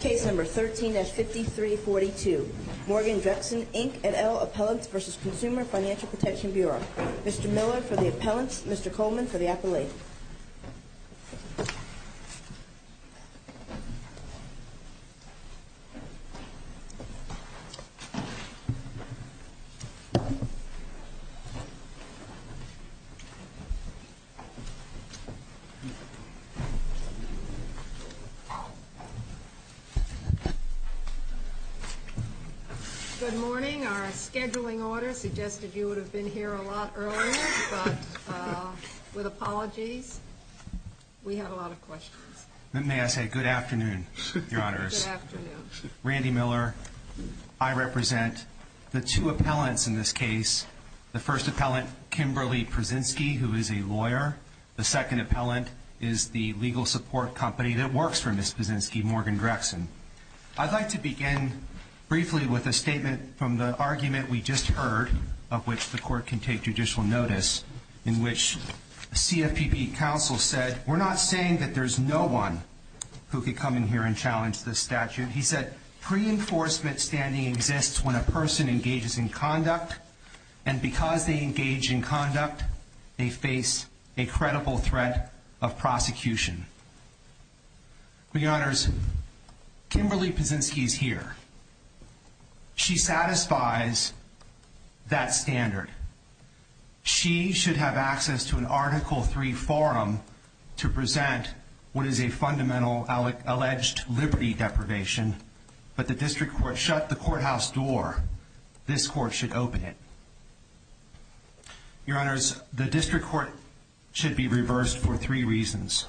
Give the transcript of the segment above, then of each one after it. Case number 13-5342, Morgan Drexen, Inc. et al. Appellants v. Consumer Financial Protection Bureau. Mr. Miller for the appellants, Mr. Coleman for the appellate. Good morning. Our scheduling order suggested you would have been here a lot earlier, but with apologies, we have a lot of questions. May I say good afternoon, Your Honors. Good afternoon. Randy Miller. I represent the two appellants in this case. The first appellant, Kimberly Pruszynski, who is a lawyer. The second appellant is the legal support company that works for Ms. Pruszynski, Morgan Drexen. I'd like to begin briefly with a statement from the argument we just heard, of which the Court can take judicial notice, in which CFPB counsel said, we're not saying that there's no one who could come in here and challenge this statute. He said, pre-enforcement standing exists when a person engages in conduct, and because they engage in conduct, they face a credible threat of prosecution. Your Honors, Kimberly Pruszynski is here. She satisfies that standard. She should have access to an Article III forum to present what is a fundamental alleged liberty deprivation, but the District Court shut the courthouse door. This Court should open it. Your Honors, the District Court should be reversed for three reasons.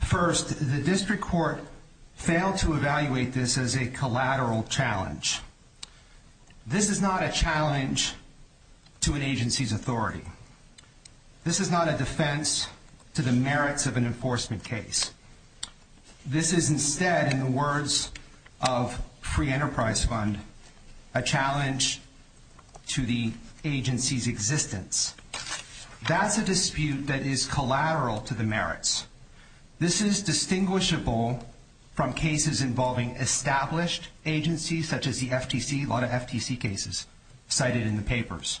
First, the District Court failed to evaluate this as a collateral challenge. This is not a challenge to an agency's authority. This is not a defense to the merits of an free enterprise fund, a challenge to the agency's existence. That's a dispute that is collateral to the merits. This is distinguishable from cases involving established agencies, such as the FTC, a lot of FTC cases cited in the papers.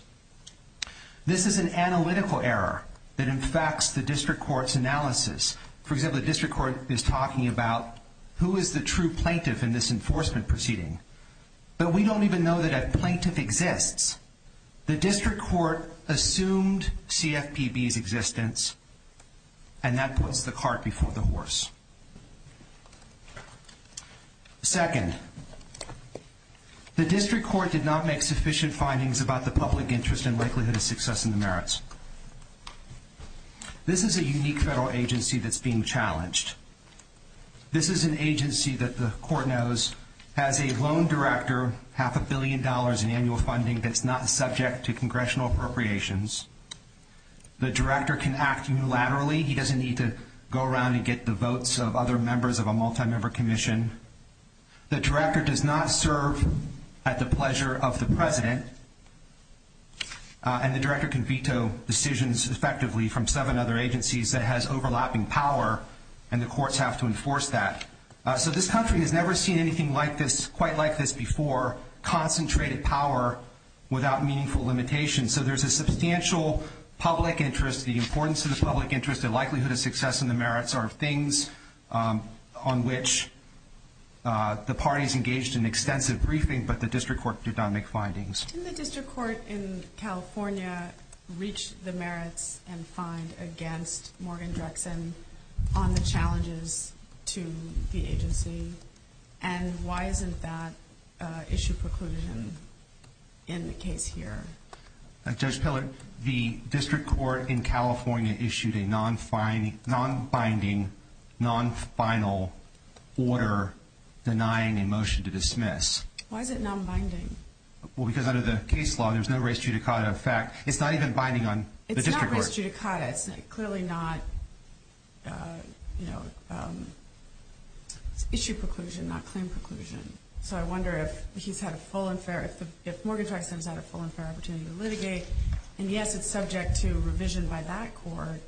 This is an analytical error that infects the District Court's analysis. For example, the enforcement proceeding, but we don't even know that a plaintiff exists. The District Court assumed CFPB's existence, and that puts the cart before the horse. Second, the District Court did not make sufficient findings about the public interest and likelihood of success in the merits. This is a unique federal agency that's being challenged. This is an agency that the Court knows has a lone director, half a billion dollars in annual funding that's not subject to congressional appropriations. The director can act unilaterally. He doesn't need to go around and get the votes of other members of a multi-member commission. The director does not serve at the pleasure of the president, and the director can veto decisions effectively from seven other agencies that has overlapping power, and the courts have to enforce that. So this country has never seen anything quite like this before, concentrated power without meaningful limitations. So there's a substantial public interest, the importance of the public interest, the likelihood of success in the merits are things on which the parties engaged in extensive briefing, but the District Court did not make findings. Can the District Court in California reach the merits and find against Morgan Drexen on the challenges to the agency, and why isn't that issue precluded in the case here? Judge Pillar, the District Court in California issued a non-binding, non-final order denying a motion to dismiss. Why is it non-binding? Well, because under the case law, there's no res judicata of fact. It's not even binding on the District Court. It's not res judicata. It's clearly not issue preclusion, not claim preclusion. So I wonder if he's had a full and fair, if Morgan Drexen has had a full and fair opportunity to litigate, and yes, it's subject to revision by that court,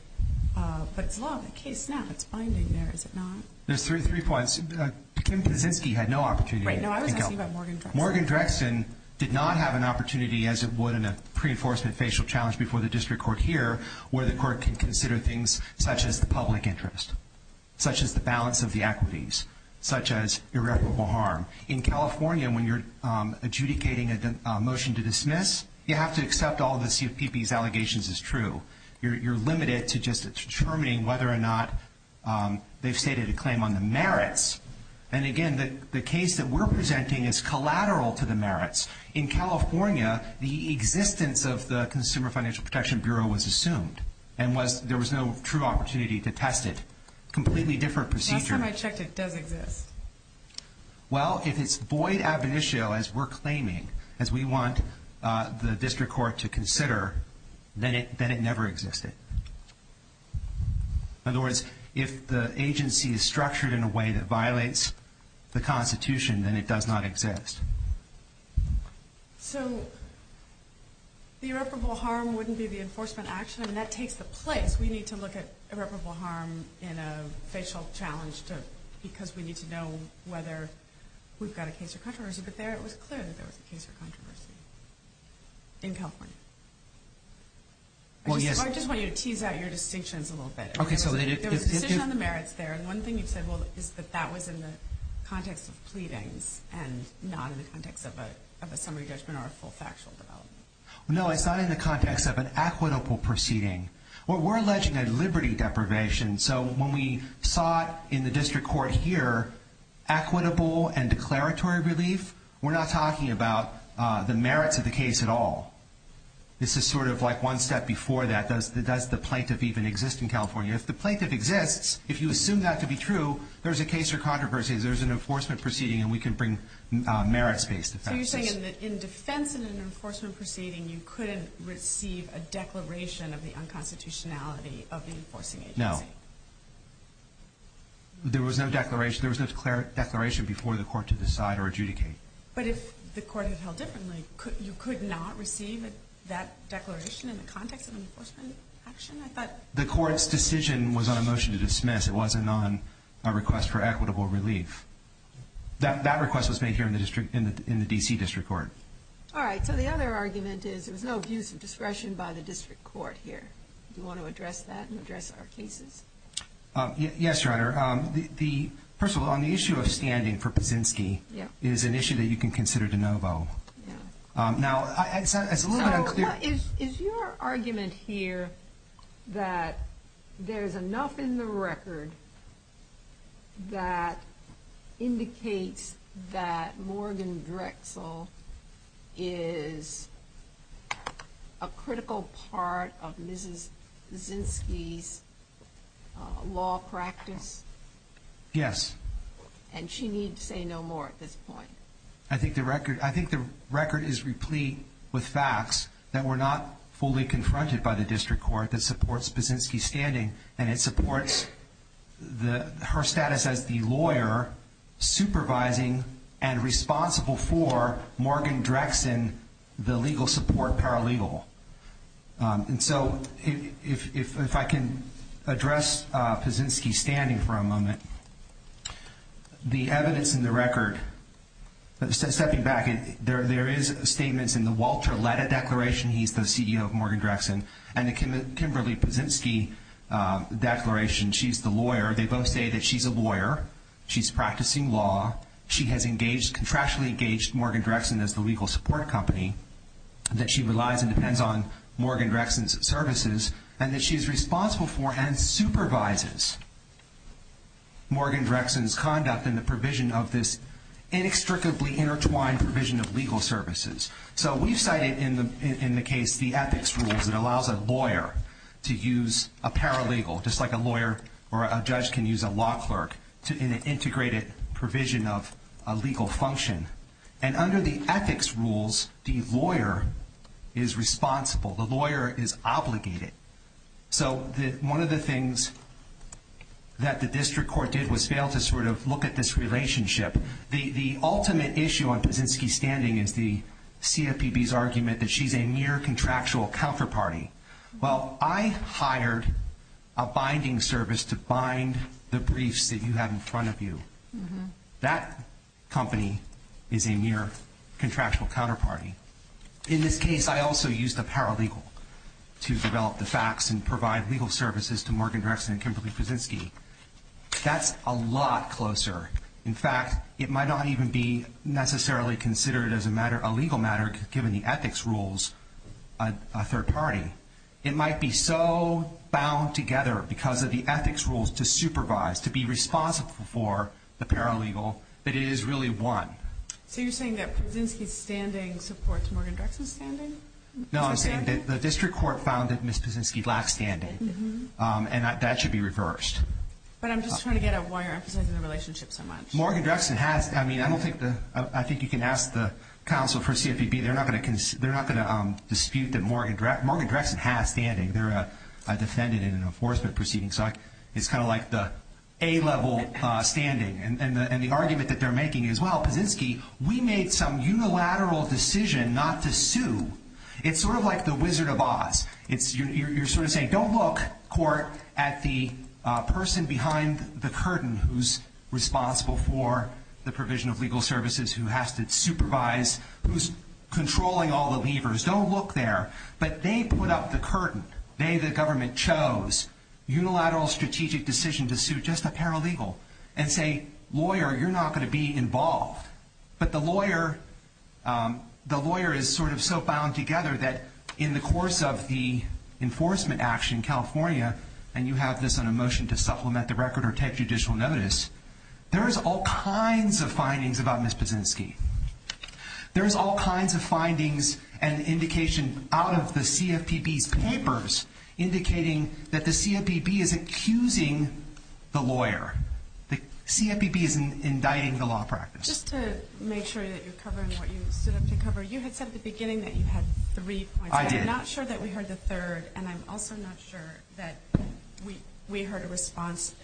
but it's law of the case now. It's binding there, is it not? There's three points. Kim Kuczynski had no opportunity. Right, no, I was asking about Morgan Drexen. Morgan Drexen did not have an opportunity as it would in a pre-enforcement facial challenge before the District Court here, where the court can consider things such as the public interest, such as the balance of the equities, such as irreparable harm. In California, when you're adjudicating a motion to dismiss, you have to accept all of the CFPB's allegations as true. You're limited to just determining whether or not they've stated a claim on the merits. And again, the case that we're presenting is collateral to the merits. In California, the existence of the Consumer Financial Protection Bureau was assumed, and there was no true opportunity to test it. Completely different procedure. Last time I checked, it does exist. Well, if it's void ab initio, as we're claiming, as we want the District Court to consider, then it never existed. In other words, if the agency is structured in a way that violates the Constitution, then it does not exist. So the irreparable harm wouldn't be the enforcement action? I mean, that takes the place. We need to look at irreparable harm in a facial challenge because we need to know whether we've got a case of controversy. But there it was clear that there was a case of controversy in California. I just want you to tease out your distinctions a little bit. There was a decision on the merits there, and one thing you've said is that that was in the context of pleadings and not in the context of a summary judgment or a full factual development. No, it's not in the context of an equitable proceeding. We're alleging a liberty deprivation, so when we sought in the District Court here equitable and declaratory relief, we're not talking about the merits of the case at all. This is sort of like one step before that. Does the plaintiff even exist in California? If the plaintiff exists, if you assume that to be true, there's a case of controversy. There's an enforcement proceeding, and we can bring merits-based offenses. So you're saying that in defense of an enforcement proceeding, you couldn't receive a declaration of the unconstitutionality of the enforcing agency? No. There was no declaration before the court to decide or adjudicate. But if the court had held differently, you could not receive that declaration in the context of an enforcement action, I thought? The court's decision was on a motion to dismiss. It wasn't on a request for equitable relief. That request was made here in the D.C. District Court. All right. So the other argument is there was no abuse of discretion by the District Court here. Yes, Your Honor. First of all, on the issue of standing for Pazinski, it is an issue that you can consider de novo. Now, it's a little bit unclear. So is your argument here that there's enough in the record that indicates that Yes. And she needs to say no more at this point. I think the record is replete with facts that were not fully confronted by the District Court that supports Pazinski's standing, and it supports her status as the lawyer supervising and responsible for Morgan Drexen, the legal support paralegal. And so if I can address Pazinski's standing for a moment, the evidence in the record, stepping back, there is statements in the Walter Letta Declaration. He's the CEO of Morgan Drexen. And the Kimberly Pazinski Declaration, she's the lawyer. They both say that she's a lawyer. She's practicing law. She has contractually engaged Morgan Drexen as the legal support company, that she relies and depends on Morgan Drexen's services, and that she is responsible for and supervises Morgan Drexen's conduct and the provision of this inextricably intertwined provision of legal services. So we've cited in the case the ethics rules that allows a lawyer to use a paralegal, just like a lawyer or a judge can use a law clerk, in an integrated provision of a legal function. And under the ethics rules, the lawyer is responsible. The lawyer is obligated. So one of the things that the district court did was fail to sort of look at this relationship. The ultimate issue on Pazinski's standing is the CFPB's argument that she's a near contractual counterparty. Well, I hired a binding service to bind the briefs that you have in front of you. That company is a near contractual counterparty. In this case, I also used a paralegal to develop the facts and provide legal services to Morgan Drexen and Kimberly Pazinski. That's a lot closer. In fact, it might not even be necessarily considered as a legal matter, given the ethics rules, a third party. It might be so bound together because of the ethics rules to supervise, to be responsible for the paralegal, but it is really one. So you're saying that Pazinski's standing supports Morgan Drexen's standing? No, I'm saying that the district court found that Ms. Pazinski lacked standing. And that should be reversed. But I'm just trying to get at why you're emphasizing the relationship so much. Morgan Drexen has. I mean, I think you can ask the counsel for CFPB. They're not going to dispute that Morgan Drexen has standing. They're a defendant in an enforcement proceeding. So it's kind of like the A-level standing. And the argument that they're making is, well, Pazinski, we made some unilateral decision not to sue. It's sort of like the Wizard of Oz. You're sort of saying, don't look, court, at the person behind the curtain who's responsible for the provision of legal services, who has to supervise, who's controlling all the levers. Don't look there. But they put up the curtain. They, the government, chose unilateral strategic decision to sue just a paralegal and say, lawyer, you're not going to be involved. But the lawyer is sort of so bound together that in the course of the enforcement action, California, and you have this on a motion to supplement the record or take judicial notice, there is all kinds of findings about Ms. Pazinski. There is all kinds of findings and indication out of the CFPB's papers indicating that the CFPB is accusing the lawyer. The CFPB is indicting the law practice. Just to make sure that you're covering what you stood up to cover, you had said at the beginning that you had three points. I did. I'm not sure that we heard the third, and I'm also not sure that we heard a response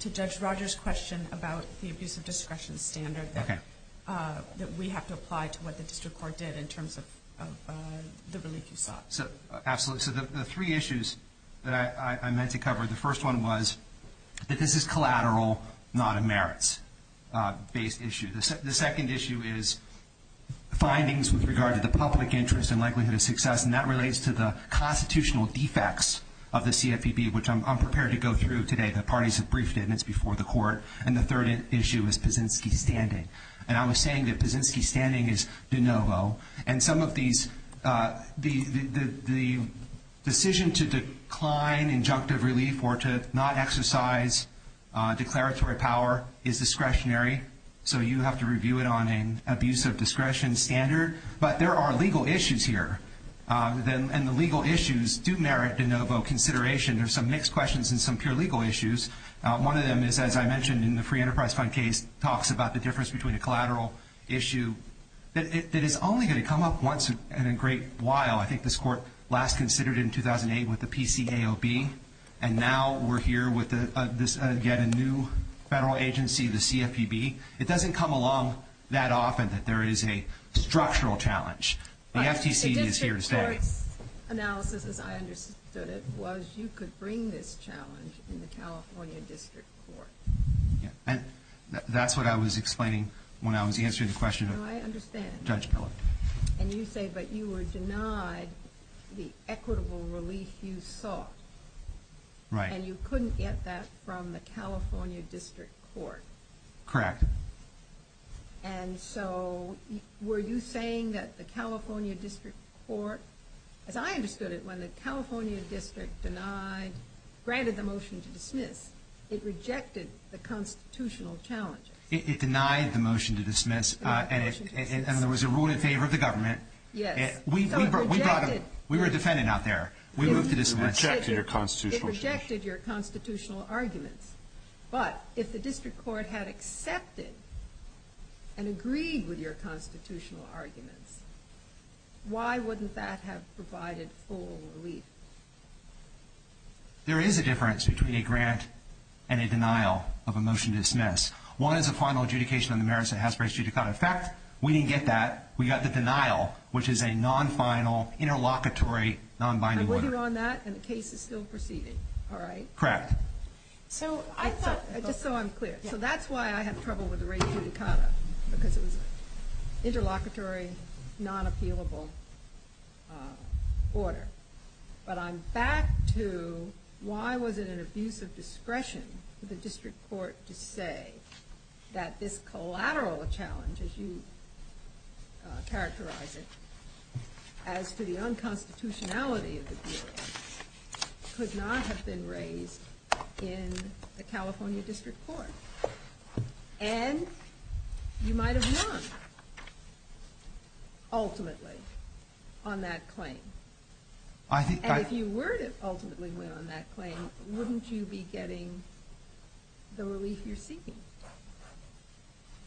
to Judge Rogers' question about the abuse of discretion standard that we have to apply to what the district court did in terms of the relief you sought. Absolutely. So the three issues that I meant to cover, the first one was that this is collateral, not a merits-based issue. The second issue is findings with regard to the public interest and likelihood of success, and that relates to the constitutional defects of the CFPB, which I'm prepared to go through today. The parties have briefed it, and it's before the court. And the third issue is Pazinski's standing. And I was saying that Pazinski's standing is de novo. And some of these, the decision to decline injunctive relief or to not exercise declaratory power is discretionary, so you have to review it on an abuse of discretion standard. But there are legal issues here, and the legal issues do merit de novo consideration. There are some mixed questions and some pure legal issues. One of them is, as I mentioned in the Free Enterprise Fund case, talks about the difference between a collateral issue. It is only going to come up once in a great while. I think this court last considered it in 2008 with the PCAOB, and now we're here with yet a new federal agency, the CFPB. It doesn't come along that often that there is a structural challenge. The FTC is here to stay. Your analysis, as I understood it, was you could bring this challenge in the California District Court. That's what I was explaining when I was answering the question of Judge Kellogg. I understand. And you say that you were denied the equitable relief you sought. Right. And you couldn't get that from the California District Court. Correct. And so were you saying that the California District Court, as I understood it, when the California District denied, granted the motion to dismiss, it rejected the constitutional challenge? It denied the motion to dismiss, and there was a ruling in favor of the government. Yes. We were defending out there. We moved to dismiss. It rejected your constitutional challenge. It rejected your constitutional arguments. But if the District Court had accepted and agreed with your constitutional arguments, why wouldn't that have provided full relief? There is a difference between a grant and a denial of a motion to dismiss. One is a final adjudication on the merits that has to be adjudicated. In fact, we didn't get that. We got the denial, which is a non-final, interlocutory, non-binding order. And with you on that, and the case is still proceeding, all right? Correct. Just so I'm clear. So that's why I have trouble with the re-adjudicata, because it was an interlocutory, non-appealable order. But I'm back to why was it an abuse of discretion for the District Court to say that this collateral challenge, as you characterize it, as to the unconstitutionality of the deal could not have been raised in the California District Court. And you might have won, ultimately, on that claim. And if you were to ultimately win on that claim, wouldn't you be getting the relief you're seeking?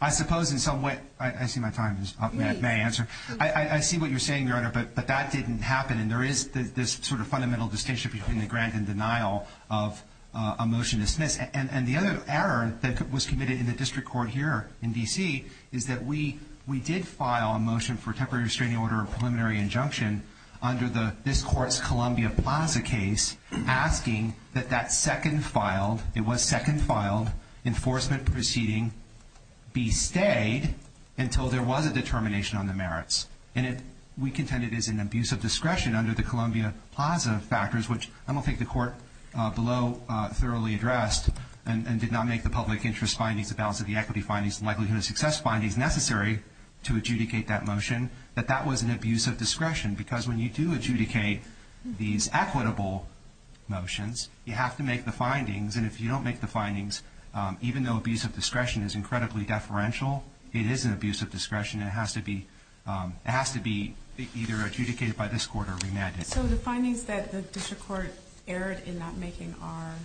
I suppose in some way. I see my time is up. May I answer? I see what you're saying, Your Honor, but that didn't happen. And there is this sort of fundamental distinction between the grant and denial of a motion dismissed. And the other error that was committed in the District Court here in D.C. is that we did file a motion for a temporary restraining order or preliminary injunction under this Court's Columbia Plaza case asking that that second filed, it was second filed, enforcement proceeding be stayed until there was a determination on the merits. We contend it is an abuse of discretion under the Columbia Plaza factors, which I don't think the Court below thoroughly addressed and did not make the public interest findings, the balance of the equity findings, and likelihood of success findings necessary to adjudicate that motion, that that was an abuse of discretion. Because when you do adjudicate these equitable motions, you have to make the findings. And if you don't make the findings, even though abuse of discretion is incredibly deferential, it is an abuse of discretion. It has to be either adjudicated by this Court or remanded. So the findings that the District Court erred in not making are,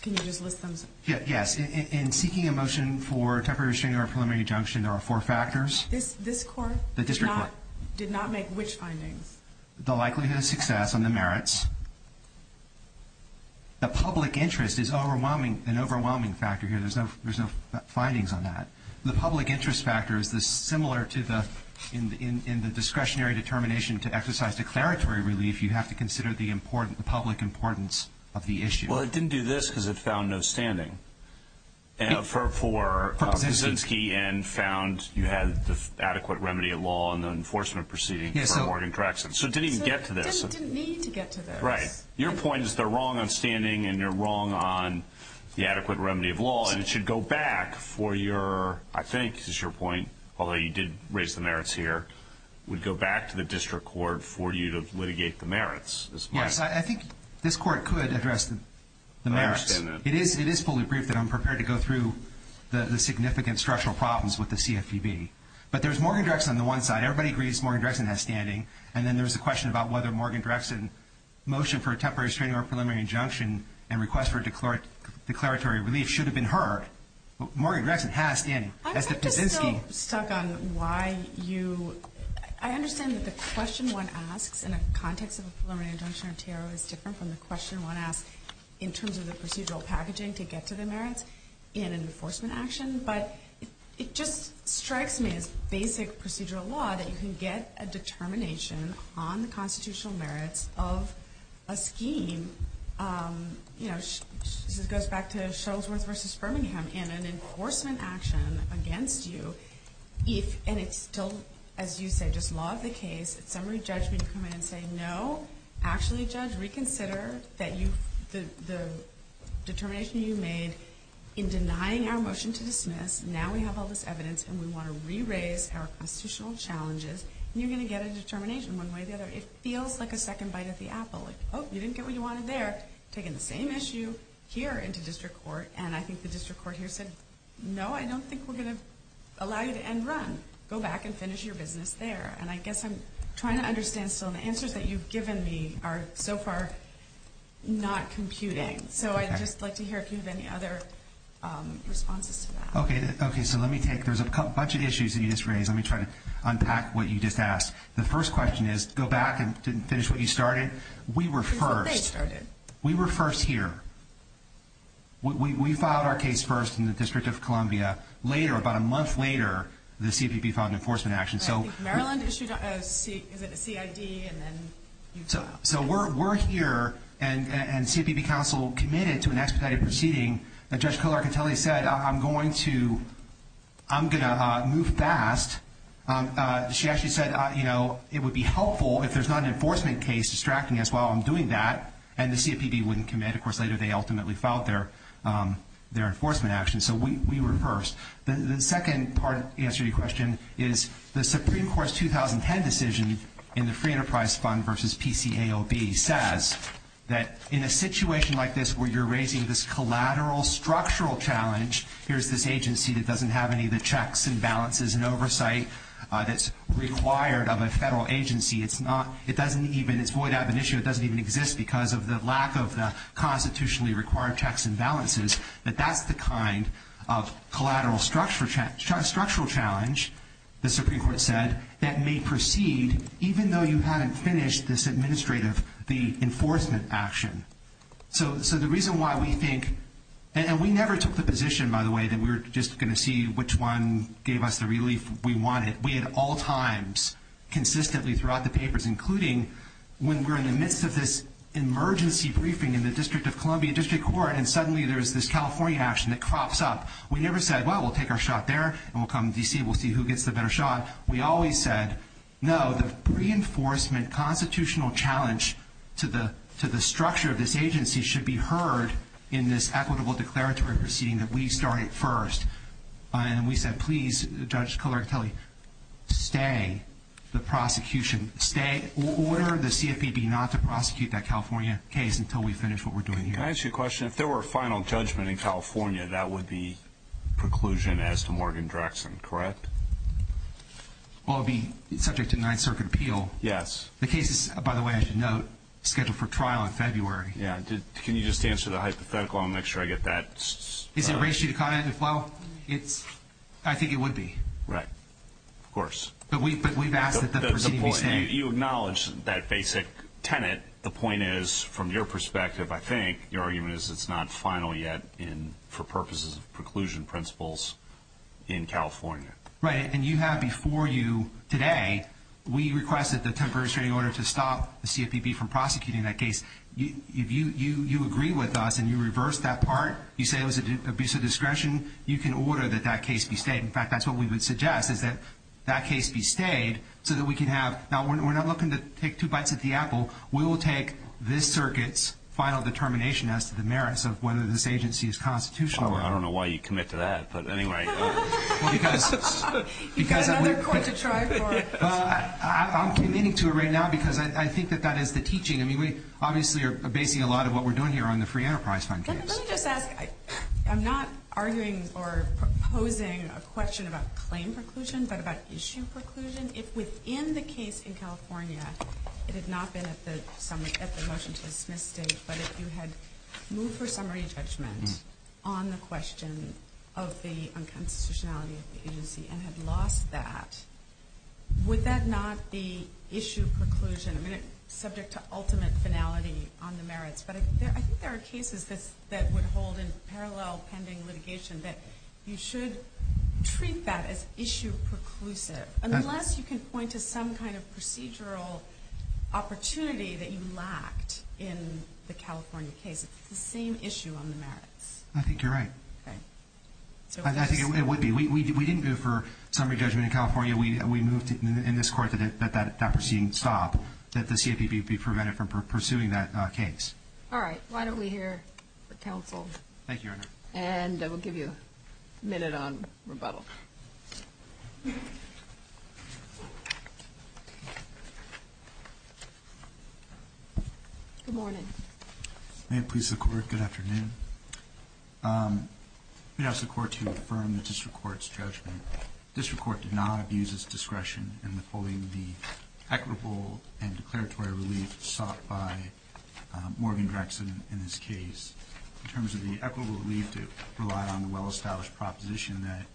can you just list them? Yes. In seeking a motion for a temporary restraining order or preliminary injunction, there are four factors. This Court did not make which findings? The likelihood of success and the merits. The public interest is an overwhelming factor here. There's no findings on that. The public interest factor is similar to the, in the discretionary determination to exercise declaratory relief, you have to consider the public importance of the issue. Well, it didn't do this because it found no standing for Kuczynski and found you had the adequate remedy of law in the enforcement proceeding for Morgan Craxton. So it didn't even get to this. It didn't need to get to this. Right. Your point is they're wrong on standing and you're wrong on the adequate remedy of law, and it should go back for your, I think is your point, although you did raise the merits here, would go back to the District Court for you to litigate the merits. Yes. I think this Court could address the merits. I understand that. It is fully brief that I'm prepared to go through the significant structural problems with the CFPB. But there's Morgan Craxton on the one side. Everybody agrees Morgan Craxton has standing, and then there's the question about whether Morgan Craxton motion for a temporary restraining order or preliminary injunction and request for declaratory relief should have been heard. Morgan Craxton has standing. Has the Kuczynski. I'm just so stuck on why you – I understand that the question one asks in a context of a preliminary injunction or tariff is different from the question one asks in terms of the procedural packaging to get to the merits in an enforcement action. But it just strikes me as basic procedural law that you can get a determination on the constitutional merits of a scheme. This goes back to Shuttlesworth v. Birmingham in an enforcement action against you, and it's still, as you said, just law of the case. It's summary judgment. You come in and say, no, actually, Judge, reconsider the determination you made in denying our motion to dismiss. Now we have all this evidence, and we want to re-raise our constitutional challenges. You're going to get a determination one way or the other. It feels like a second bite of the apple. Oh, you didn't get what you wanted there. Taking the same issue here into district court, and I think the district court here said, no, I don't think we're going to allow you to end run. Go back and finish your business there. And I guess I'm trying to understand still, and the answers that you've given me are so far not computing. So I'd just like to hear if you have any other responses to that. Okay, so let me take – there's a bunch of issues that you just raised. Let me try to unpack what you just asked. The first question is, go back and finish what you started. We were first. This is what they started. We were first here. We filed our case first in the District of Columbia. Later, about a month later, the CFPB filed an enforcement action. I think Maryland issued a CID, and then you filed. So we're here, and CFPB counsel committed to an expedited proceeding. Judge Colarcatelli said, I'm going to move fast. She actually said it would be helpful if there's not an enforcement case distracting us while I'm doing that, and the CFPB wouldn't commit. Of course, later they ultimately filed their enforcement action. So we were first. The second part to answer your question is the Supreme Court's 2010 decision in the Free Enterprise Fund versus PCAOB says that in a situation like this where you're raising this collateral structural challenge, here's this agency that doesn't have any of the checks and balances and oversight that's required of a federal agency. It's void ad venitio. It doesn't even exist because of the lack of the constitutionally required checks and balances, that that's the kind of collateral structural challenge, the Supreme Court said, that may proceed even though you haven't finished this administrative, the enforcement action. So the reason why we think, and we never took the position, by the way, that we were just going to see which one gave us the relief we wanted. We at all times consistently throughout the papers, including when we're in the midst of this emergency briefing in the District of Columbia District Court and suddenly there's this California action that crops up, we never said, well, we'll take our shot there and we'll come to D.C. and we'll see who gets the better shot. We always said, no, the reinforcement constitutional challenge to the structure of this agency should be heard in this equitable declaratory proceeding that we started first. And we said, please, Judge Colartelli, stay the prosecution, stay, order the CFPB not to prosecute that California case until we finish what we're doing here. Can I ask you a question? If there were a final judgment in California, that would be preclusion as to Morgan-Drexen, correct? Well, it would be subject to Ninth Circuit appeal. Yes. The case is, by the way, I should note, scheduled for trial in February. Can you just answer the hypothetical? I want to make sure I get that. Is there a ratio to comment? Well, I think it would be. Right. Of course. But we've asked that the proceeding be stated. You acknowledge that basic tenet. The point is, from your perspective, I think, your argument is it's not final yet for purposes of preclusion principles in California. Right. And you have before you today, we requested the temporary restraining order to stop the CFPB from prosecuting that case. If you agree with us and you reverse that part, you say it was an abuse of discretion, you can order that that case be stated. In fact, that's what we would suggest, is that that case be stated so that we can have, now we're not looking to take two bites at the apple. We will take this circuit's final determination as to the merits of whether this agency is constitutional or not. I don't know why you'd commit to that. But anyway. You've got another court to try for. I'm committing to it right now because I think that that is the teaching. I mean, we obviously are basing a lot of what we're doing here on the Free Enterprise Fund case. Let me just ask, I'm not arguing or proposing a question about claim preclusion, but about issue preclusion. I'm wondering if within the case in California, it had not been at the motion to dismiss state, but if you had moved for summary judgment on the question of the unconstitutionality of the agency and had lost that, would that not be issue preclusion? I mean, it's subject to ultimate finality on the merits. But I think there are cases that would hold in parallel pending litigation that you should treat that as issue preclusive. Unless you can point to some kind of procedural opportunity that you lacked in the California case. It's the same issue on the merits. I think you're right. Okay. I think it would be. We didn't go for summary judgment in California. We moved in this court that that proceeding stop, that the CFPB be prevented from pursuing that case. All right. Why don't we hear from counsel? Thank you, Your Honor. And we'll give you a minute on rebuttal. Thank you. Good morning. May it please the Court, good afternoon. We ask the Court to affirm the district court's judgment. The district court did not abuse its discretion in withholding the equitable and declaratory relief sought by Morgan Drexen in this case. In terms of the equitable relief, it relied on the well-established proposition that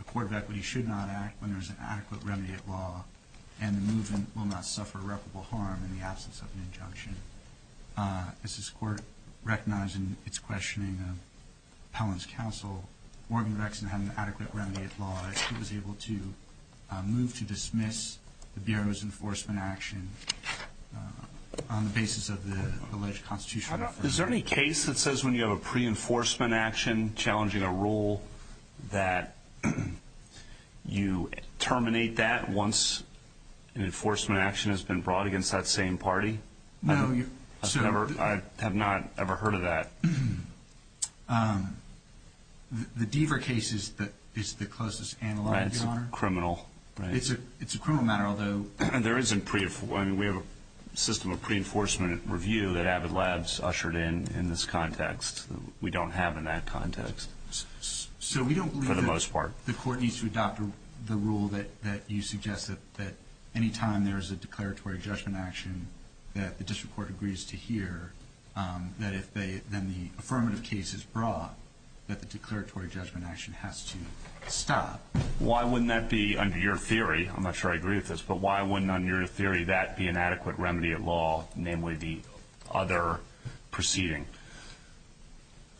a court of equity should not act when there is an adequate remediate law and the movement will not suffer reputable harm in the absence of an injunction. As this court recognized in its questioning of Pelham's counsel, Morgan Drexen had an adequate remediate law. He was able to move to dismiss the Bureau's enforcement action on the basis of the alleged constitutional reform. Is there any case that says when you have a pre-enforcement action challenging a rule that you terminate that once an enforcement action has been brought against that same party? No. I have not ever heard of that. The Deaver case is the closest analogue, Your Honor. It's criminal. It's a criminal matter, although we have a system of pre-enforcement review that Avid Labs ushered in in this context. We don't have it in that context for the most part. So we don't believe that the court needs to adopt the rule that you suggested, that any time there is a declaratory judgment action that the district court agrees to hear, that if then the affirmative case is brought, that the declaratory judgment action has to stop. Why wouldn't that be, under your theory, I'm not sure I agree with this, but why wouldn't, under your theory, that be an adequate remedy at law, namely the other proceeding?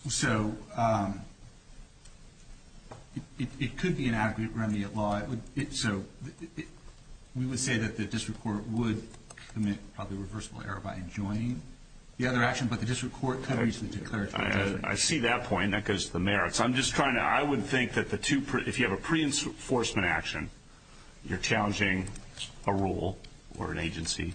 So it could be an adequate remedy at law. So we would say that the district court would commit probably a reversible error by enjoining the other action, but the district court could agree to the declaratory judgment. I see that point. That goes to the merits. I would think that if you have a pre-enforcement action, you're challenging a rule or an agency,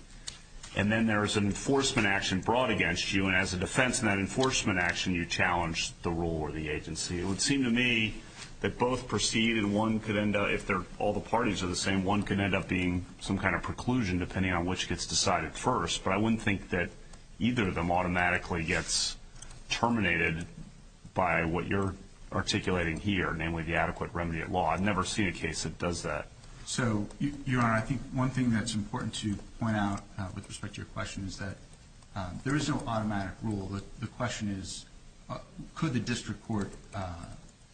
and then there is an enforcement action brought against you, and as a defense in that enforcement action you challenge the rule or the agency. It would seem to me that both proceed and one could end up, if all the parties are the same, one could end up being some kind of preclusion depending on which gets decided first, but I wouldn't think that either of them automatically gets terminated by what you're articulating here, namely the adequate remedy at law. I've never seen a case that does that. So, Your Honor, I think one thing that's important to point out with respect to your question is that there is no automatic rule. The question is could the district court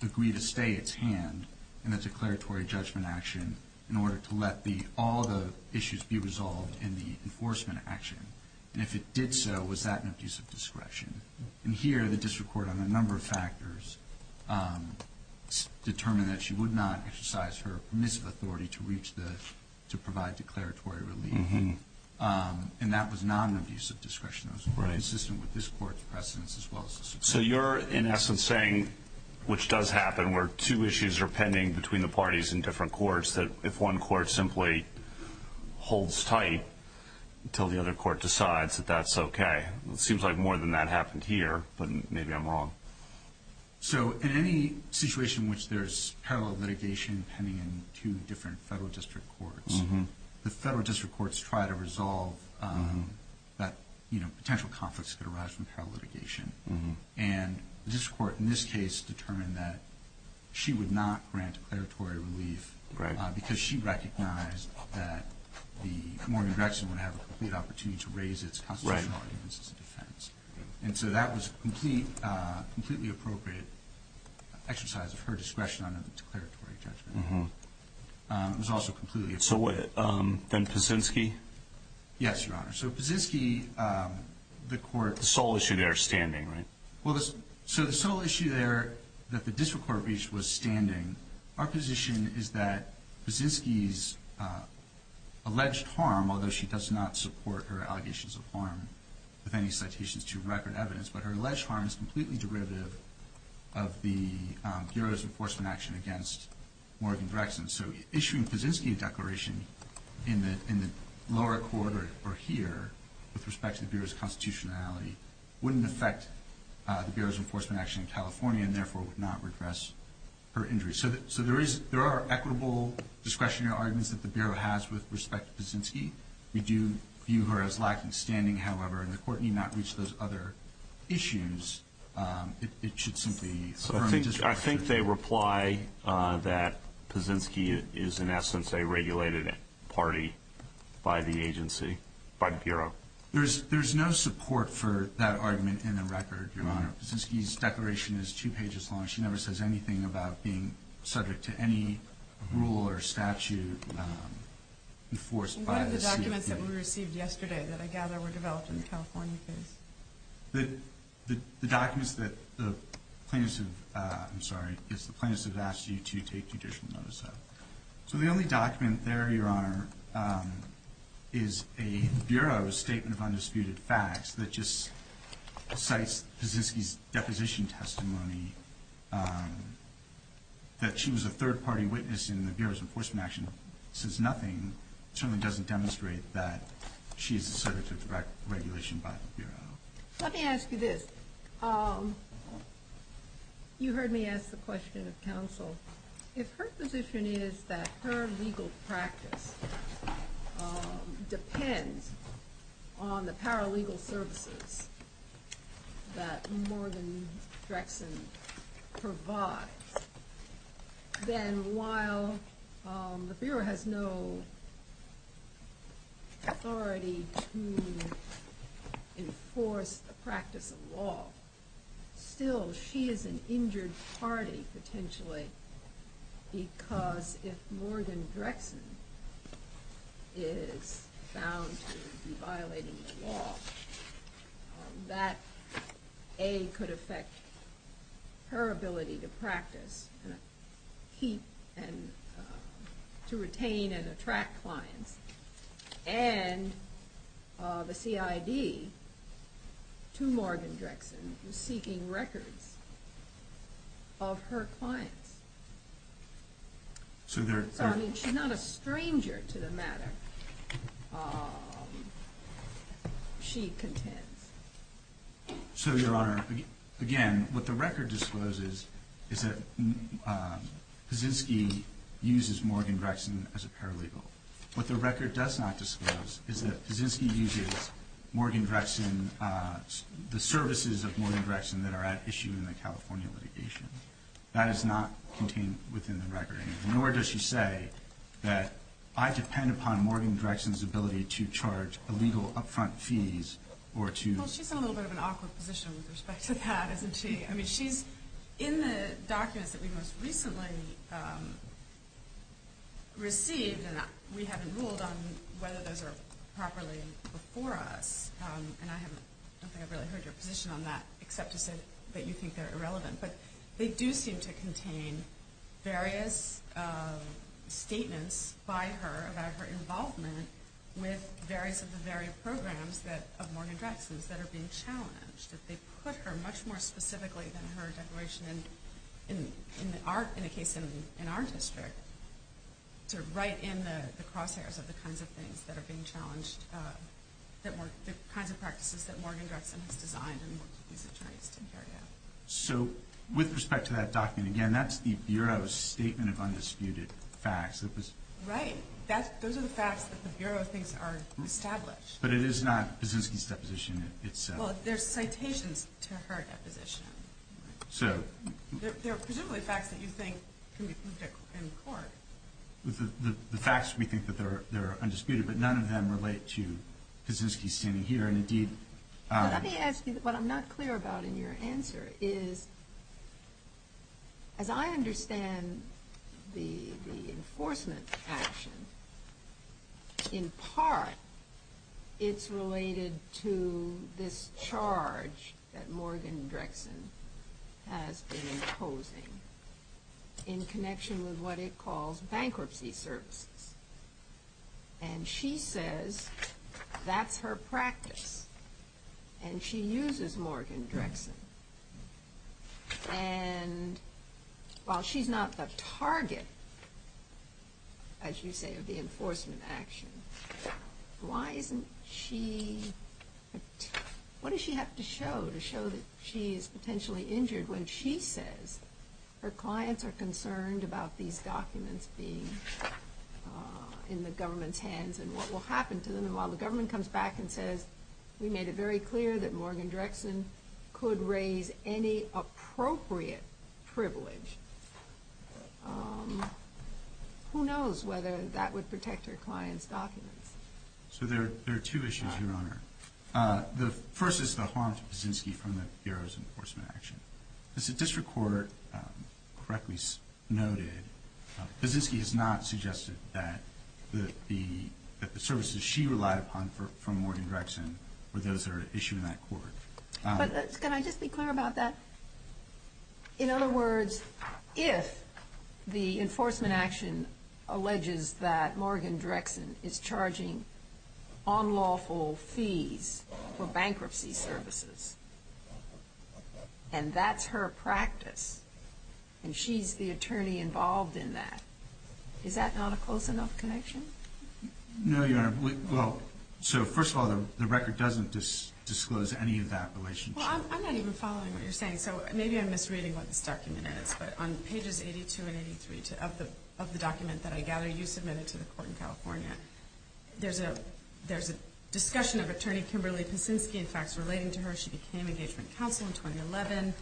agree to stay its hand in the declaratory judgment action in order to let all the issues be resolved in the enforcement action, and if it did so, was that an abuse of discretion? And here the district court, on a number of factors, determined that she would not exercise her permissive authority to provide declaratory relief, and that was not an abuse of discretion. It was consistent with this court's precedence as well as the district court's. So you're, in essence, saying, which does happen, where two issues are pending between the parties in different courts, that if one court simply holds tight until the other court decides that that's okay. It seems like more than that happened here, but maybe I'm wrong. So in any situation in which there's parallel litigation pending in two different federal district courts, the federal district courts try to resolve that potential conflicts that arise from parallel litigation, and the district court in this case determined that she would not grant declaratory relief because she recognized that the Mormon-Grexon would have a complete opportunity to raise its constitutional arguments as a defense. And so that was a completely appropriate exercise of her discretion under the declaratory judgment. It was also completely appropriate. So then Pazinski? Yes, Your Honor. So Pazinski, the court- The sole issue there standing, right? Well, so the sole issue there that the district court reached was standing. Our position is that Pazinski's alleged harm, although she does not support her allegations of harm with any citations to record evidence, but her alleged harm is completely derivative of the Bureau's enforcement action against Morgan-Grexon. So issuing Pazinski a declaration in the lower court or here with respect to the Bureau's constitutionality wouldn't affect the Bureau's enforcement action in California and therefore would not redress her injury. So there are equitable discretionary arguments that the Bureau has with respect to Pazinski. We do view her as lacking standing, however, and the court need not reach those other issues. It should simply- I think they reply that Pazinski is, in essence, a regulated party by the agency, by the Bureau. There's no support for that argument in the record, Your Honor. Pazinski's declaration is two pages long. She never says anything about being subject to any rule or statute enforced by the CFPB. What are the documents that we received yesterday that I gather were developed in the California case? The documents that the plaintiffs have-I'm sorry. It's the plaintiffs have asked you to take judicial notice of. So the only document there, Your Honor, is a Bureau statement of undisputed facts that just cites Pazinski's deposition testimony that she was a third-party witness in the Bureau's enforcement action. This is nothing. It certainly doesn't demonstrate that she is subject to regulation by the Bureau. Let me ask you this. You heard me ask the question of counsel. If her position is that her legal practice depends on the paralegal services that Morgan Drexen provides, then while the Bureau has no authority to enforce the practice of law, still she is an injured party, potentially, because if Morgan Drexen is found to be violating the law, that, A, could affect her ability to practice and to retain and attract clients. And the CID, to Morgan Drexen, is seeking records of her clients. I mean, she's not a stranger to the matter, she contends. So, Your Honor, again, what the record discloses is that Pazinski uses Morgan Drexen as a paralegal. What the record does not disclose is that Pazinski uses the services of Morgan Drexen that are at issue in the California litigation. That is not contained within the record. Nor does she say that I depend upon Morgan Drexen's ability to charge illegal upfront fees or to Well, she's in a little bit of an awkward position with respect to that, isn't she? I mean, she's in the documents that we most recently received, and we haven't ruled on whether those are properly before us. And I don't think I've really heard your position on that, except to say that you think they're irrelevant. But they do seem to contain various statements by her about her involvement with various of the various programs of Morgan Drexen's that are being challenged. They put her much more specifically than her declaration in the case in our district to write in the crosshairs of the kinds of things that are being challenged, the kinds of practices that Morgan Drexen has designed and worked with these attorneys to carry out. So with respect to that document, again, that's the Bureau's statement of undisputed facts. Right. Those are the facts that the Bureau thinks are established. But it is not Pazinski's deposition itself. Well, there's citations to her deposition. They're presumably facts that you think can be proved in court. The facts we think that they're undisputed, but none of them relate to Pazinski standing here. Let me ask you what I'm not clear about in your answer is, as I understand the enforcement action, in part it's related to this charge that Morgan Drexen has been imposing in connection with what it calls bankruptcy services. And she says that's her practice. And she uses Morgan Drexen. And while she's not the target, as you say, of the enforcement action, why isn't she – what does she have to show to show that she is potentially injured when she says her clients are concerned about these documents being in the government's hands and what will happen to them? And while the government comes back and says, we made it very clear that Morgan Drexen could raise any appropriate privilege, who knows whether that would protect her clients' documents. So there are two issues, Your Honor. The first is the harm to Pazinski from the Bureau's enforcement action. As the district court correctly noted, Pazinski has not suggested that the services she relied upon from Morgan Drexen were those that are issued in that court. But can I just be clear about that? In other words, if the enforcement action alleges that Morgan Drexen is charging unlawful fees for bankruptcy services, and that's her practice, and she's the attorney involved in that, is that not a close enough connection? No, Your Honor. Well, so first of all, the record doesn't disclose any of that relationship. Well, I'm not even following what you're saying, so maybe I'm misreading what this document is. But on pages 82 and 83 of the document that I gather you submitted to the court in California, there's a discussion of Attorney Kimberly Pazinski, in fact, relating to her. She became engagement counsel in 2011.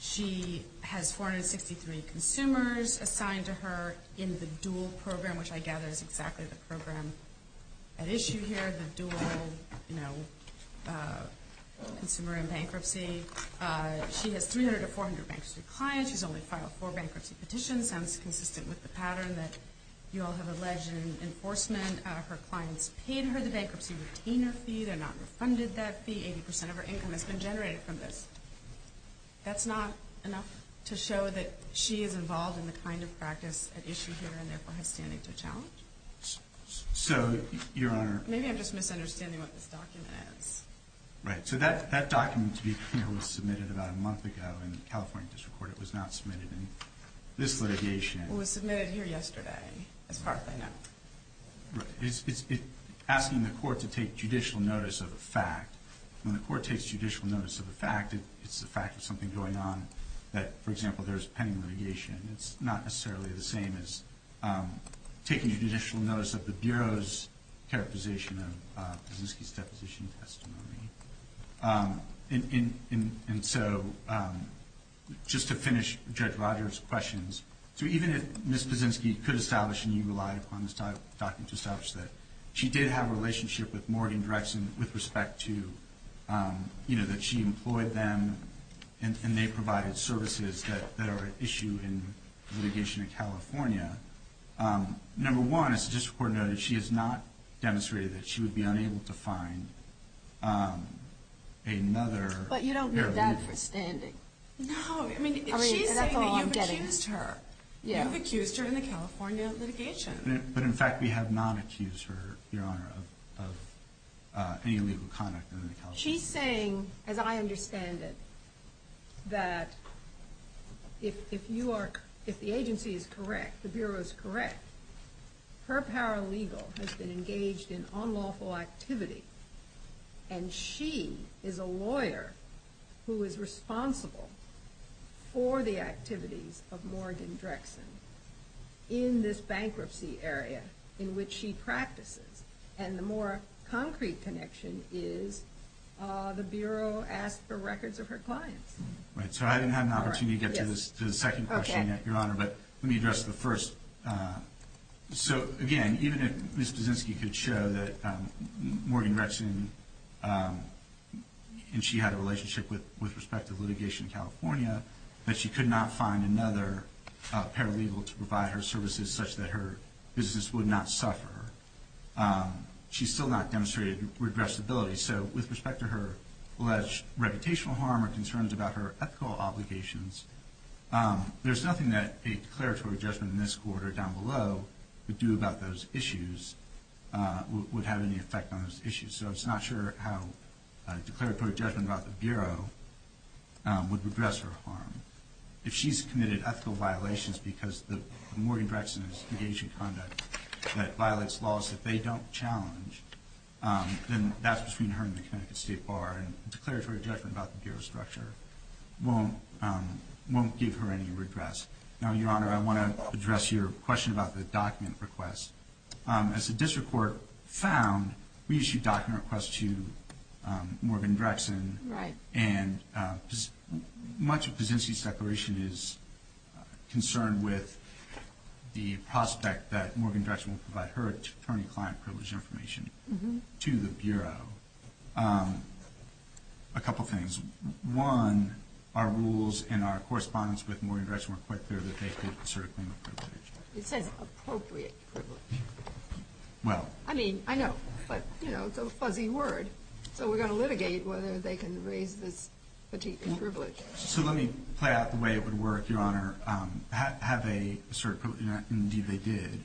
She has 463 consumers assigned to her in the dual program, which I gather is exactly the program at issue here, the dual consumer and bankruptcy. She has 300 or 400 bankruptcy clients. She's only filed four bankruptcy petitions. Sounds consistent with the pattern that you all have alleged in enforcement. Her clients paid her the bankruptcy retainer fee. They're not refunded that fee. Eighty percent of her income has been generated from this. That's not enough to show that she is involved in the kind of practice at issue here and therefore has standing to challenge. So, Your Honor. Maybe I'm just misunderstanding what this document is. Right. So that document, to be clear, was submitted about a month ago in the California District Court. It was not submitted in this litigation. It was submitted here yesterday, as far as I know. Right. It's asking the court to take judicial notice of a fact. When the court takes judicial notice of a fact, it's the fact of something going on that, for example, there's pending litigation. It's not necessarily the same as taking judicial notice of the Bureau's characterization of Pazinski's deposition testimony. And so, just to finish Judge Rogers' questions, so even if Ms. Pazinski could establish and you relied upon this document to establish that, she did have a relationship with Morgan Drexel with respect to, you know, that she employed them and they provided services that are at issue in litigation in California. Number one, as the District Court noted, she has not demonstrated that she would be unable to find another paralegal. But you don't need that for standing. No. I mean, she's saying that you've accused her. You've accused her in the California litigation. But, in fact, we have not accused her, Your Honor, of any illegal conduct in the California. She's saying, as I understand it, that if the agency is correct, the Bureau is correct, her paralegal has been engaged in unlawful activity and she is a lawyer who is responsible for the activities of Morgan Drexel in this bankruptcy area in which she practices. And the more concrete connection is the Bureau asked for records of her clients. Right. So I didn't have an opportunity to get to the second question yet, Your Honor. But let me address the first. So, again, even if Ms. Pazinski could show that Morgan Drexel, that she could not find another paralegal to provide her services such that her businesses would not suffer, she's still not demonstrated regressibility. So with respect to her alleged reputational harm or concerns about her ethical obligations, there's nothing that a declaratory judgment in this court or down below would do about those issues, would have any effect on those issues. So I'm just not sure how a declaratory judgment about the Bureau would redress her harm. If she's committed ethical violations because Morgan Drexel is engaged in conduct that violates laws that they don't challenge, then that's between her and the Connecticut State Bar, and a declaratory judgment about the Bureau's structure won't give her any regress. Now, Your Honor, I want to address your question about the document request. As the district court found, we issued a document request to Morgan Drexel, and much of Pazinski's declaration is concerned with the prospect that Morgan Drexel will provide her attorney-client privilege information to the Bureau. A couple things. One, our rules and our correspondence with Morgan Drexel were quite clear that they could assert a claim of privilege. It says appropriate privilege. Well. I mean, I know. But, you know, it's a fuzzy word. So we're going to litigate whether they can raise this particular privilege. So let me play out the way it would work, Your Honor. Have they asserted privilege? Indeed, they did.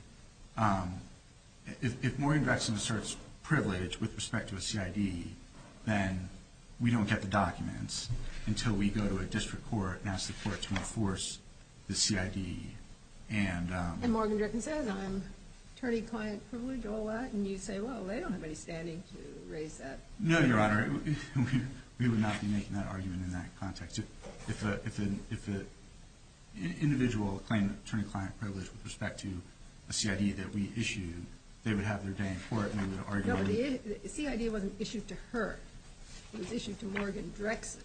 If Morgan Drexel asserts privilege with respect to a CID, then we don't get the documents until we go to a district court and ask the court to enforce the CID. And Morgan Drexel says, I'm attorney-client privilege, all that, and you say, well, they don't have any standing to raise that. No, Your Honor. We would not be making that argument in that context. If an individual claimed attorney-client privilege with respect to a CID that we issued, they would have their day in court and they would argue. No, but the CID wasn't issued to her. It was issued to Morgan Drexel.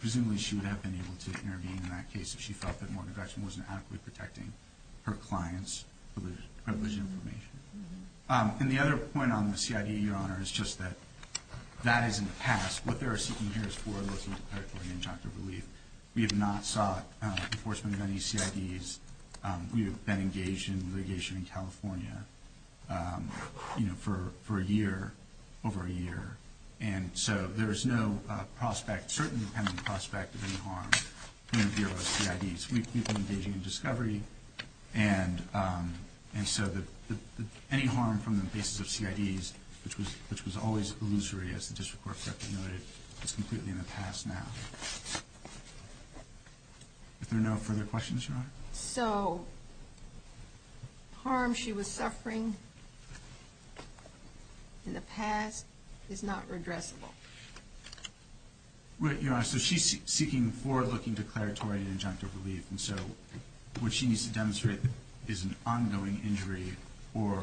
Presumably, she would have been able to intervene in that case if she felt that Morgan Drexel wasn't adequately protecting her client's privileged information. And the other point on the CID, Your Honor, is just that that is in the past. What they are seeking here is forward-looking declaratory injunctive relief. We have not sought enforcement of any CIDs. We have been engaged in litigation in California, you know, for a year, over a year. And so there is no prospect, certain dependent prospect, of any harm from any of those CIDs. We've been engaging in discovery. And so any harm from the basis of CIDs, which was always illusory, as the district court correctly noted, is completely in the past now. Are there no further questions, Your Honor? So harm she was suffering in the past is not redressable. Right, Your Honor. So she's seeking forward-looking declaratory injunctive relief. And so what she needs to demonstrate is an ongoing injury or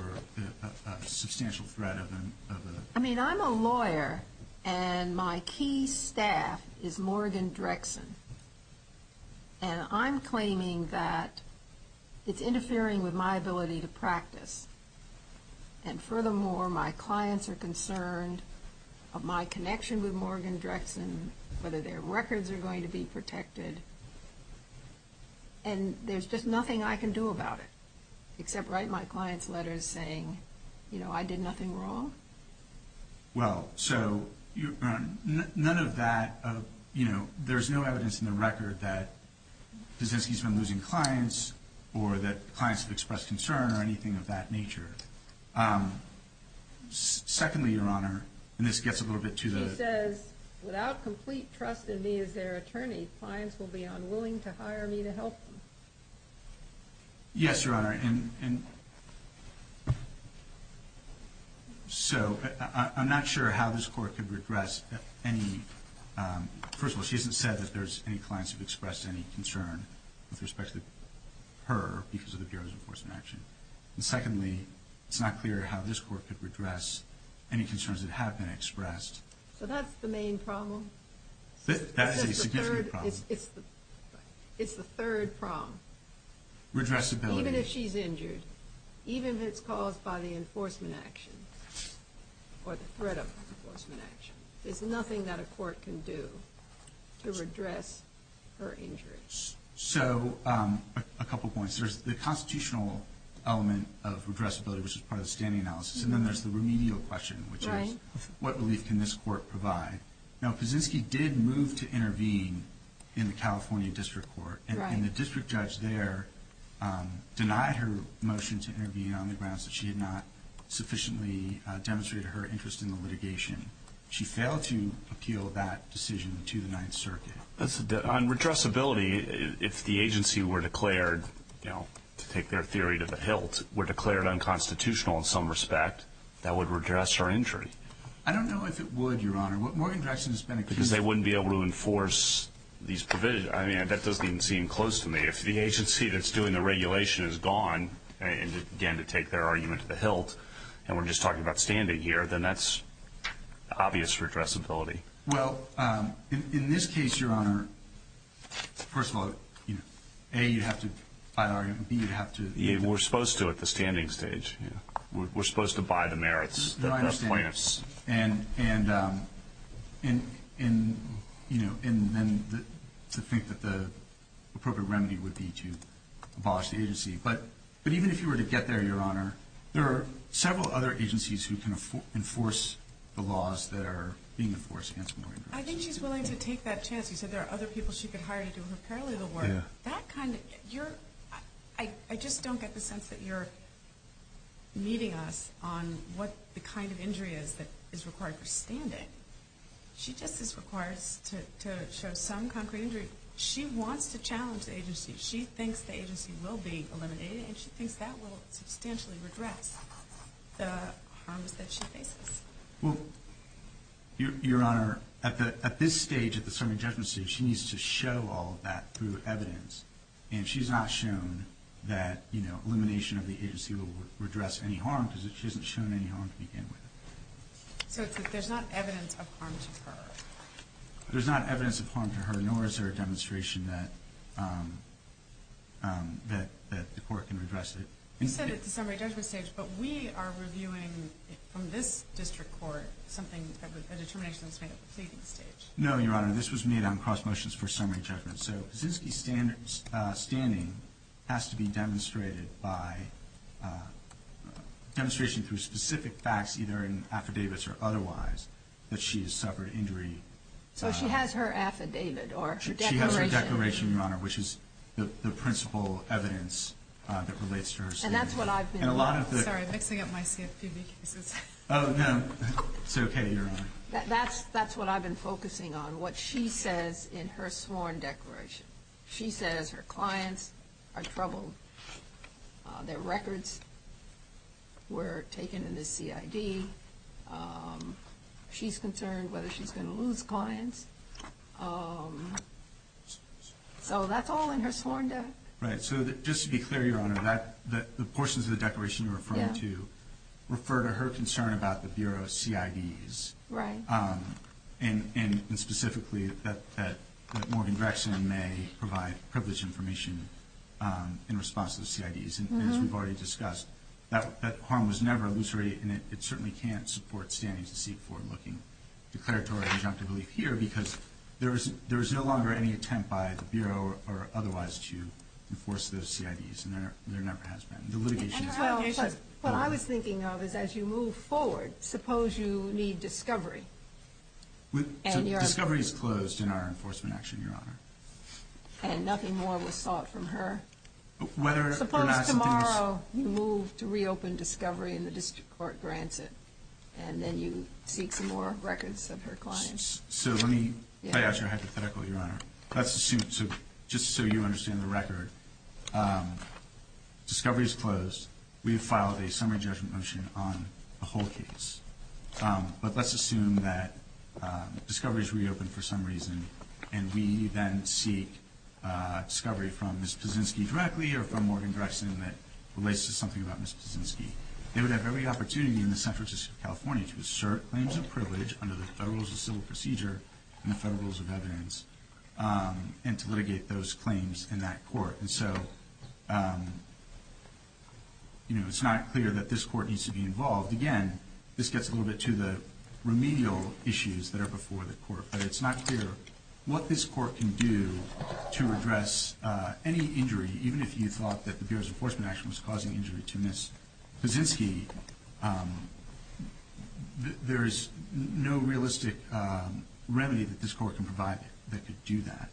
a substantial threat of a... I mean, I'm a lawyer, and my key staff is Morgan Drexel. And I'm claiming that it's interfering with my ability to practice. And furthermore, my clients are concerned of my connection with Morgan Drexel, whether their records are going to be protected. And there's just nothing I can do about it, except write my clients letters saying, you know, I did nothing wrong. Well, so none of that, you know, there's no evidence in the record that Kaczynski's been losing clients or that clients have expressed concern or anything of that nature. Secondly, Your Honor, and this gets a little bit to the... She says, without complete trust in me as their attorney, clients will be unwilling to hire me to help them. Yes, Your Honor. Your Honor, in... So I'm not sure how this Court could redress any... First of all, she hasn't said that there's any clients who've expressed any concern with respect to her because of the Bureau's enforcement action. And secondly, it's not clear how this Court could redress any concerns that have been expressed. So that's the main problem? That is a significant problem. It's the third problem. Redressability... Even if she's injured, even if it's caused by the enforcement action or the threat of enforcement action, there's nothing that a court can do to redress her injury. So a couple points. There's the constitutional element of redressability, which is part of the standing analysis, and then there's the remedial question, which is, what relief can this Court provide? Now, Kaczynski did move to intervene in the California District Court. And the district judge there denied her motion to intervene on the grounds that she had not sufficiently demonstrated her interest in the litigation. She failed to appeal that decision to the Ninth Circuit. On redressability, if the agency were declared, to take their theory to the hilt, were declared unconstitutional in some respect, that would redress her injury. I don't know if it would, Your Honor. Morgan Jackson has been accused of... Because they wouldn't be able to enforce these provisions. I mean, that doesn't even seem close to me. If the agency that's doing the regulation is gone, again, to take their argument to the hilt, and we're just talking about standing here, then that's obvious redressability. Well, in this case, Your Honor, first of all, A, you'd have to buy the argument, and B, you'd have to... We're supposed to at the standing stage. We're supposed to buy the merits, the plaintiffs. And then to think that the appropriate remedy would be to abolish the agency. But even if you were to get there, Your Honor, there are several other agencies who can enforce the laws that are being enforced against Morgan Jackson. I think she's willing to take that chance. You said there are other people she could hire to do her paralegal work. I just don't get the sense that you're meeting us on what the kind of injury is that is required for standing. She just is required to show some concrete injury. She wants to challenge the agency. She thinks the agency will be eliminated, and she thinks that will substantially redress the harms that she faces. Well, Your Honor, at this stage, at the summary judgment stage, she needs to show all of that through evidence. And she's not shown that elimination of the agency will redress any harm, because she hasn't shown any harm to begin with. So there's not evidence of harm to her. There's not evidence of harm to her, nor is there a demonstration that the court can redress it. You said at the summary judgment stage, but we are reviewing from this district court something, a determination that's made at the pleading stage. No, Your Honor. This was made on cross motions for summary judgment. So Kaczynski's standing has to be demonstrated by demonstration through specific facts, either in affidavits or otherwise, that she has suffered injury. So she has her affidavit or her declaration. That's her declaration, Your Honor, which is the principal evidence that relates to her statement. Sorry, I'm mixing up my CFPB cases. Oh, no. It's okay, Your Honor. That's what I've been focusing on, what she says in her sworn declaration. She says her clients are troubled. Their records were taken in the CID. She's concerned whether she's going to lose clients. So that's all in her sworn declaration. Right. So just to be clear, Your Honor, the portions of the declaration you're referring to refer to her concern about the Bureau of CIDs. Right. And specifically that Morgan Drexen may provide privileged information in response to the CIDs. As we've already discussed, that harm was never elucidated, and it certainly can't support standing to seek forward-looking declaratory injunctive belief here because there is no longer any attempt by the Bureau or otherwise to enforce those CIDs, and there never has been. The litigation is still ongoing. What I was thinking of is as you move forward, suppose you need discovery. So discovery is closed in our enforcement action, Your Honor. And nothing more was sought from her. Suppose tomorrow you move to reopen discovery and the district court grants it and then you seek some more records of her clients. So let me play out your hypothetical, Your Honor. Let's assume, just so you understand the record, discovery is closed. We have filed a summary judgment motion on the whole case. But let's assume that discovery is reopened for some reason and we then seek discovery from Ms. Puszynski directly or from Morgan Drexen that relates to something about Ms. Puszynski. They would have every opportunity in the state of California to assert claims of privilege under the Federal Rules of Civil Procedure and the Federal Rules of Evidence and to litigate those claims in that court. And so it's not clear that this court needs to be involved. Again, this gets a little bit to the remedial issues that are before the court, but it's not clear what this court can do to address any injury, even if you thought that the Bureau's enforcement action was causing injury to Ms. Puszynski. There is no realistic remedy that this court can provide that could do that.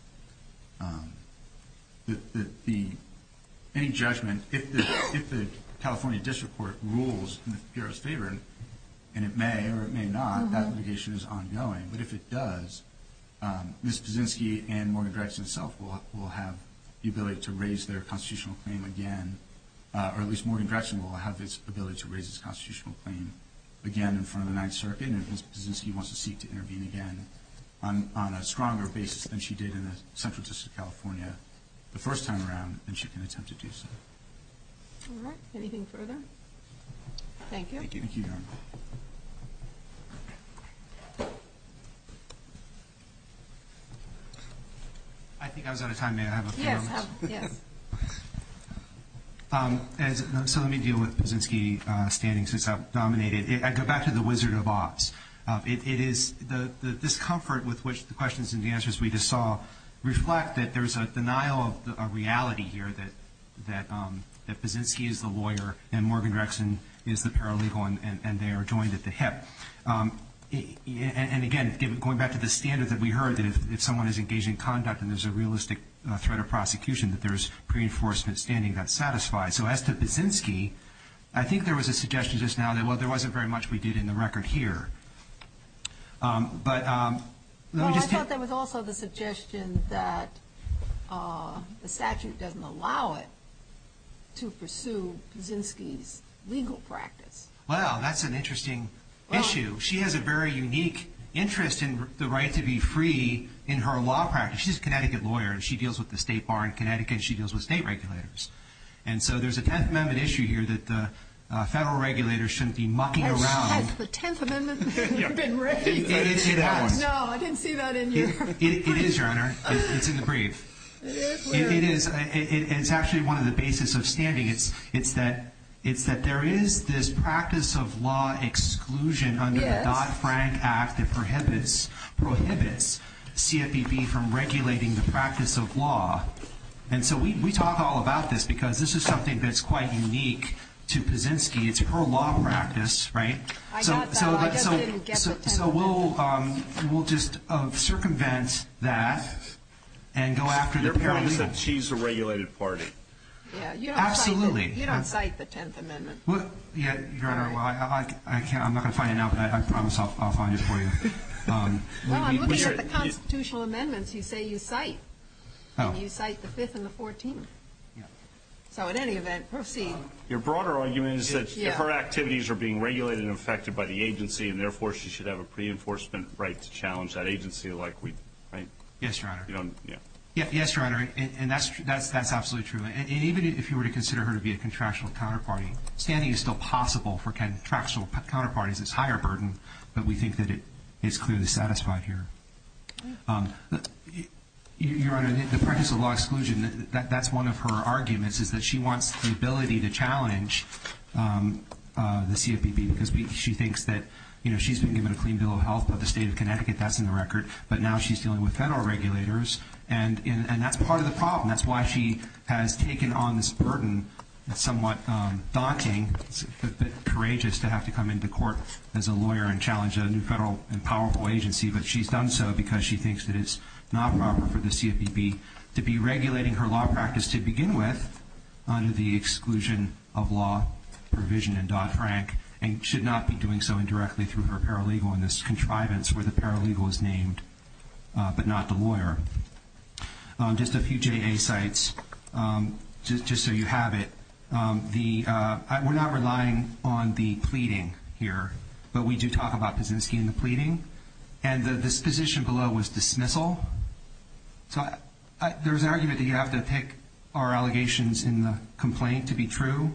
Any judgment, if the California district court rules in the Bureau's favor, and it may or it may not, that litigation is ongoing. But if it does, Ms. Puszynski and Morgan Drexen itself will have the ability to raise their constitutional claim again, or at least Morgan Drexen will have its ability to raise its constitutional claim again in front of the Ninth Circuit, and if Ms. Puszynski wants to seek to intervene again on a stronger basis than she did in the Central District of California the first time around, then she can attempt to do so. All right. Anything further? Thank you. Thank you, Your Honor. I think I was out of time. May I have a few moments? Yes. So let me deal with Puszynski standing since I've dominated. I'd go back to the Wizard of Oz. It is the discomfort with which the questions and the answers we just saw reflect that there's a denial of reality here that Puszynski is the lawyer and Morgan Drexen is the paralegal and they are joined at the hip. And again, going back to the standard that we heard, that if someone is engaged in conduct and there's a realistic threat of prosecution, that there's pre-enforcement standing that satisfies. So as to Puszynski, I think there was a suggestion just now that, well, there wasn't very much we did in the record here. Well, I thought there was also the suggestion that the statute doesn't allow it to pursue Puszynski's legal practice. Well, that's an interesting issue. She has a very unique interest in the right to be free in her law practice. She's a Connecticut lawyer and she deals with the state bar in Connecticut and she deals with state regulators. And so there's a Tenth Amendment issue here that the federal regulators shouldn't be mucking around. Is that the Tenth Amendment that you've been raising? No, I didn't see that in your brief. It is, Your Honor. It's in the brief. It is? It is. It's actually one of the basis of standing. It's that there is this practice of law exclusion under the Dodd-Frank Act that prohibits CFPB from regulating the practice of law. And so we talk all about this because this is something that's quite unique to Puszynski. It's her law practice, right? I got that. I just didn't get the Tenth Amendment. So we'll just circumvent that and go after the Puszynski. Your parents said she's a regulated party. Absolutely. You don't cite the Tenth Amendment. Your Honor, I'm not going to find it now, but I promise I'll find it for you. Well, I'm looking at the constitutional amendments you say you cite. You cite the Fifth and the Fourteenth. So in any event, proceed. Your broader argument is that her activities are being regulated and affected by the agency, and therefore she should have a pre-enforcement right to challenge that agency like we do, right? Yes, Your Honor. Yes, Your Honor, and that's absolutely true. And even if you were to consider her to be a contractual counterparty, standing is still possible for contractual counterparties. It's a higher burden, but we think that it's clearly satisfied here. Your Honor, the practice of law exclusion, that's one of her arguments, is that she wants the ability to challenge the CFPB because she thinks that, you know, she's been given a clean bill of health by the state of Connecticut, that's in the record, but now she's dealing with federal regulators, and that's part of the problem. That's why she has taken on this burden that's somewhat daunting, but courageous to have to come into court as a lawyer and challenge a new federal and powerful agency, but she's done so because she thinks that it's not proper for the CFPB to be regulating her law practice to begin with under the exclusion of law provision in Dodd-Frank and should not be doing so indirectly through her paralegal in this contrivance where the paralegal is named, but not the lawyer. Just a few JA sites, just so you have it. We're not relying on the pleading here, but we do talk about Kaczynski and the pleading, and the disposition below was dismissal. So there's an argument that you have to pick our allegations in the complaint to be true.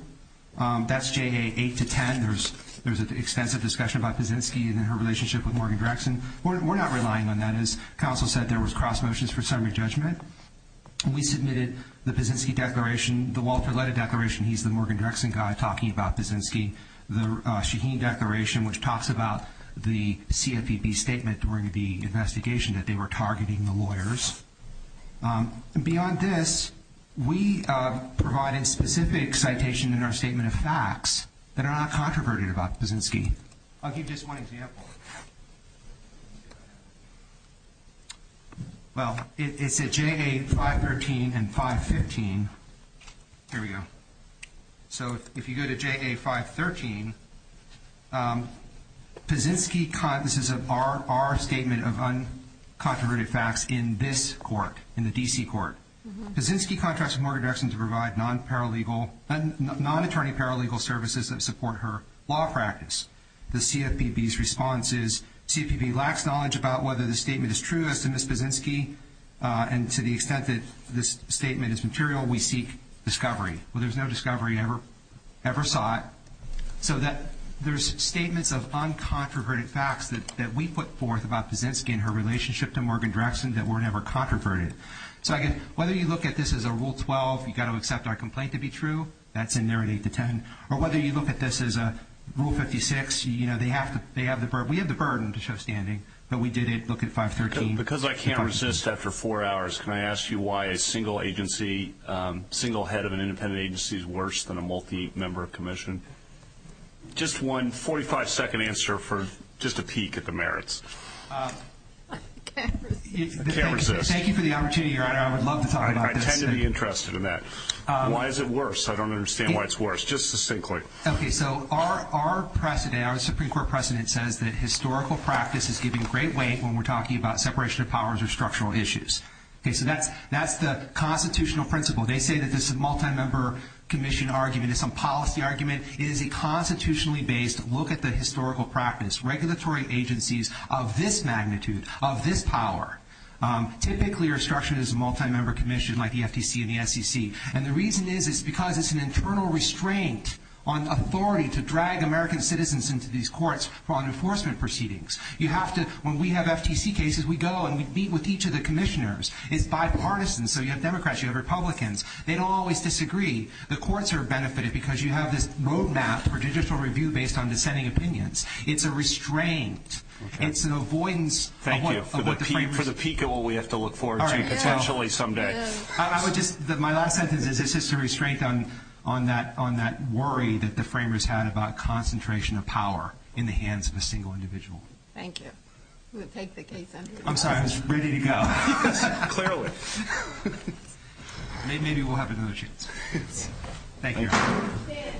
That's JA 8 to 10. There's an extensive discussion about Kaczynski and her relationship with Morgan Drexen. We're not relying on that. As counsel said, there was cross motions for summary judgment. We submitted the Kaczynski declaration, the Walter Leda declaration. He's the Morgan Drexen guy talking about Kaczynski. The Shaheen declaration, which talks about the CFPB statement during the investigation that they were targeting the lawyers. Beyond this, we provide a specific citation in our statement of facts that are not controverted about Kaczynski. I'll give you just one example. Well, it's at JA 513 and 515. Here we go. So if you go to JA 513, this is our statement of uncontroverted facts in this court, in the D.C. court. Kaczynski contracts with Morgan Drexen to provide non-attorney paralegal services that support her law practice. The CFPB's response is CFPB lacks knowledge about whether the statement is true as to Ms. Kaczynski, and to the extent that this statement is material, we seek discovery. Well, there's no discovery ever sought. So there's statements of uncontroverted facts that we put forth about Kaczynski and her relationship to Morgan Drexen that were never controverted. So whether you look at this as a Rule 12, you've got to accept our complaint to be true, that's in there at 8 to 10. Or whether you look at this as a Rule 56, you know, they have the burden. We have the burden to show standing, but we did look at 513. Because I can't resist after four hours, can I ask you why a single agency, single head of an independent agency is worse than a multi-member commission? Just one 45-second answer for just a peek at the merits. I can't resist. I can't resist. Thank you for the opportunity, Your Honor. I would love to talk about this. I tend to be interested in that. Why is it worse? I don't understand why it's worse. Just succinctly. Okay, so our precedent, our Supreme Court precedent says that historical practice is giving great weight when we're talking about separation of powers or structural issues. Okay, so that's the constitutional principle. They say that this is a multi-member commission argument. It's a policy argument. It is a constitutionally based look at the historical practice. Regulatory agencies of this magnitude, of this power, typically are structured as a multi-member commission like the FTC and the SEC. And the reason is it's because it's an internal restraint on authority to drag American citizens into these courts on enforcement proceedings. When we have FTC cases, we go and we meet with each of the commissioners. It's bipartisan. So you have Democrats. You have Republicans. They don't always disagree. The courts are benefited because you have this roadmap for digital review based on dissenting opinions. It's a restraint. It's an avoidance. Thank you. For the peek at what we have to look forward to potentially someday. My last sentence is just a restraint on that worry that the framers had about concentration of power in the hands of a single individual. Thank you. We'll take the case under review. I'm sorry. I was ready to go. Clearly. Maybe we'll have another chance. Thank you.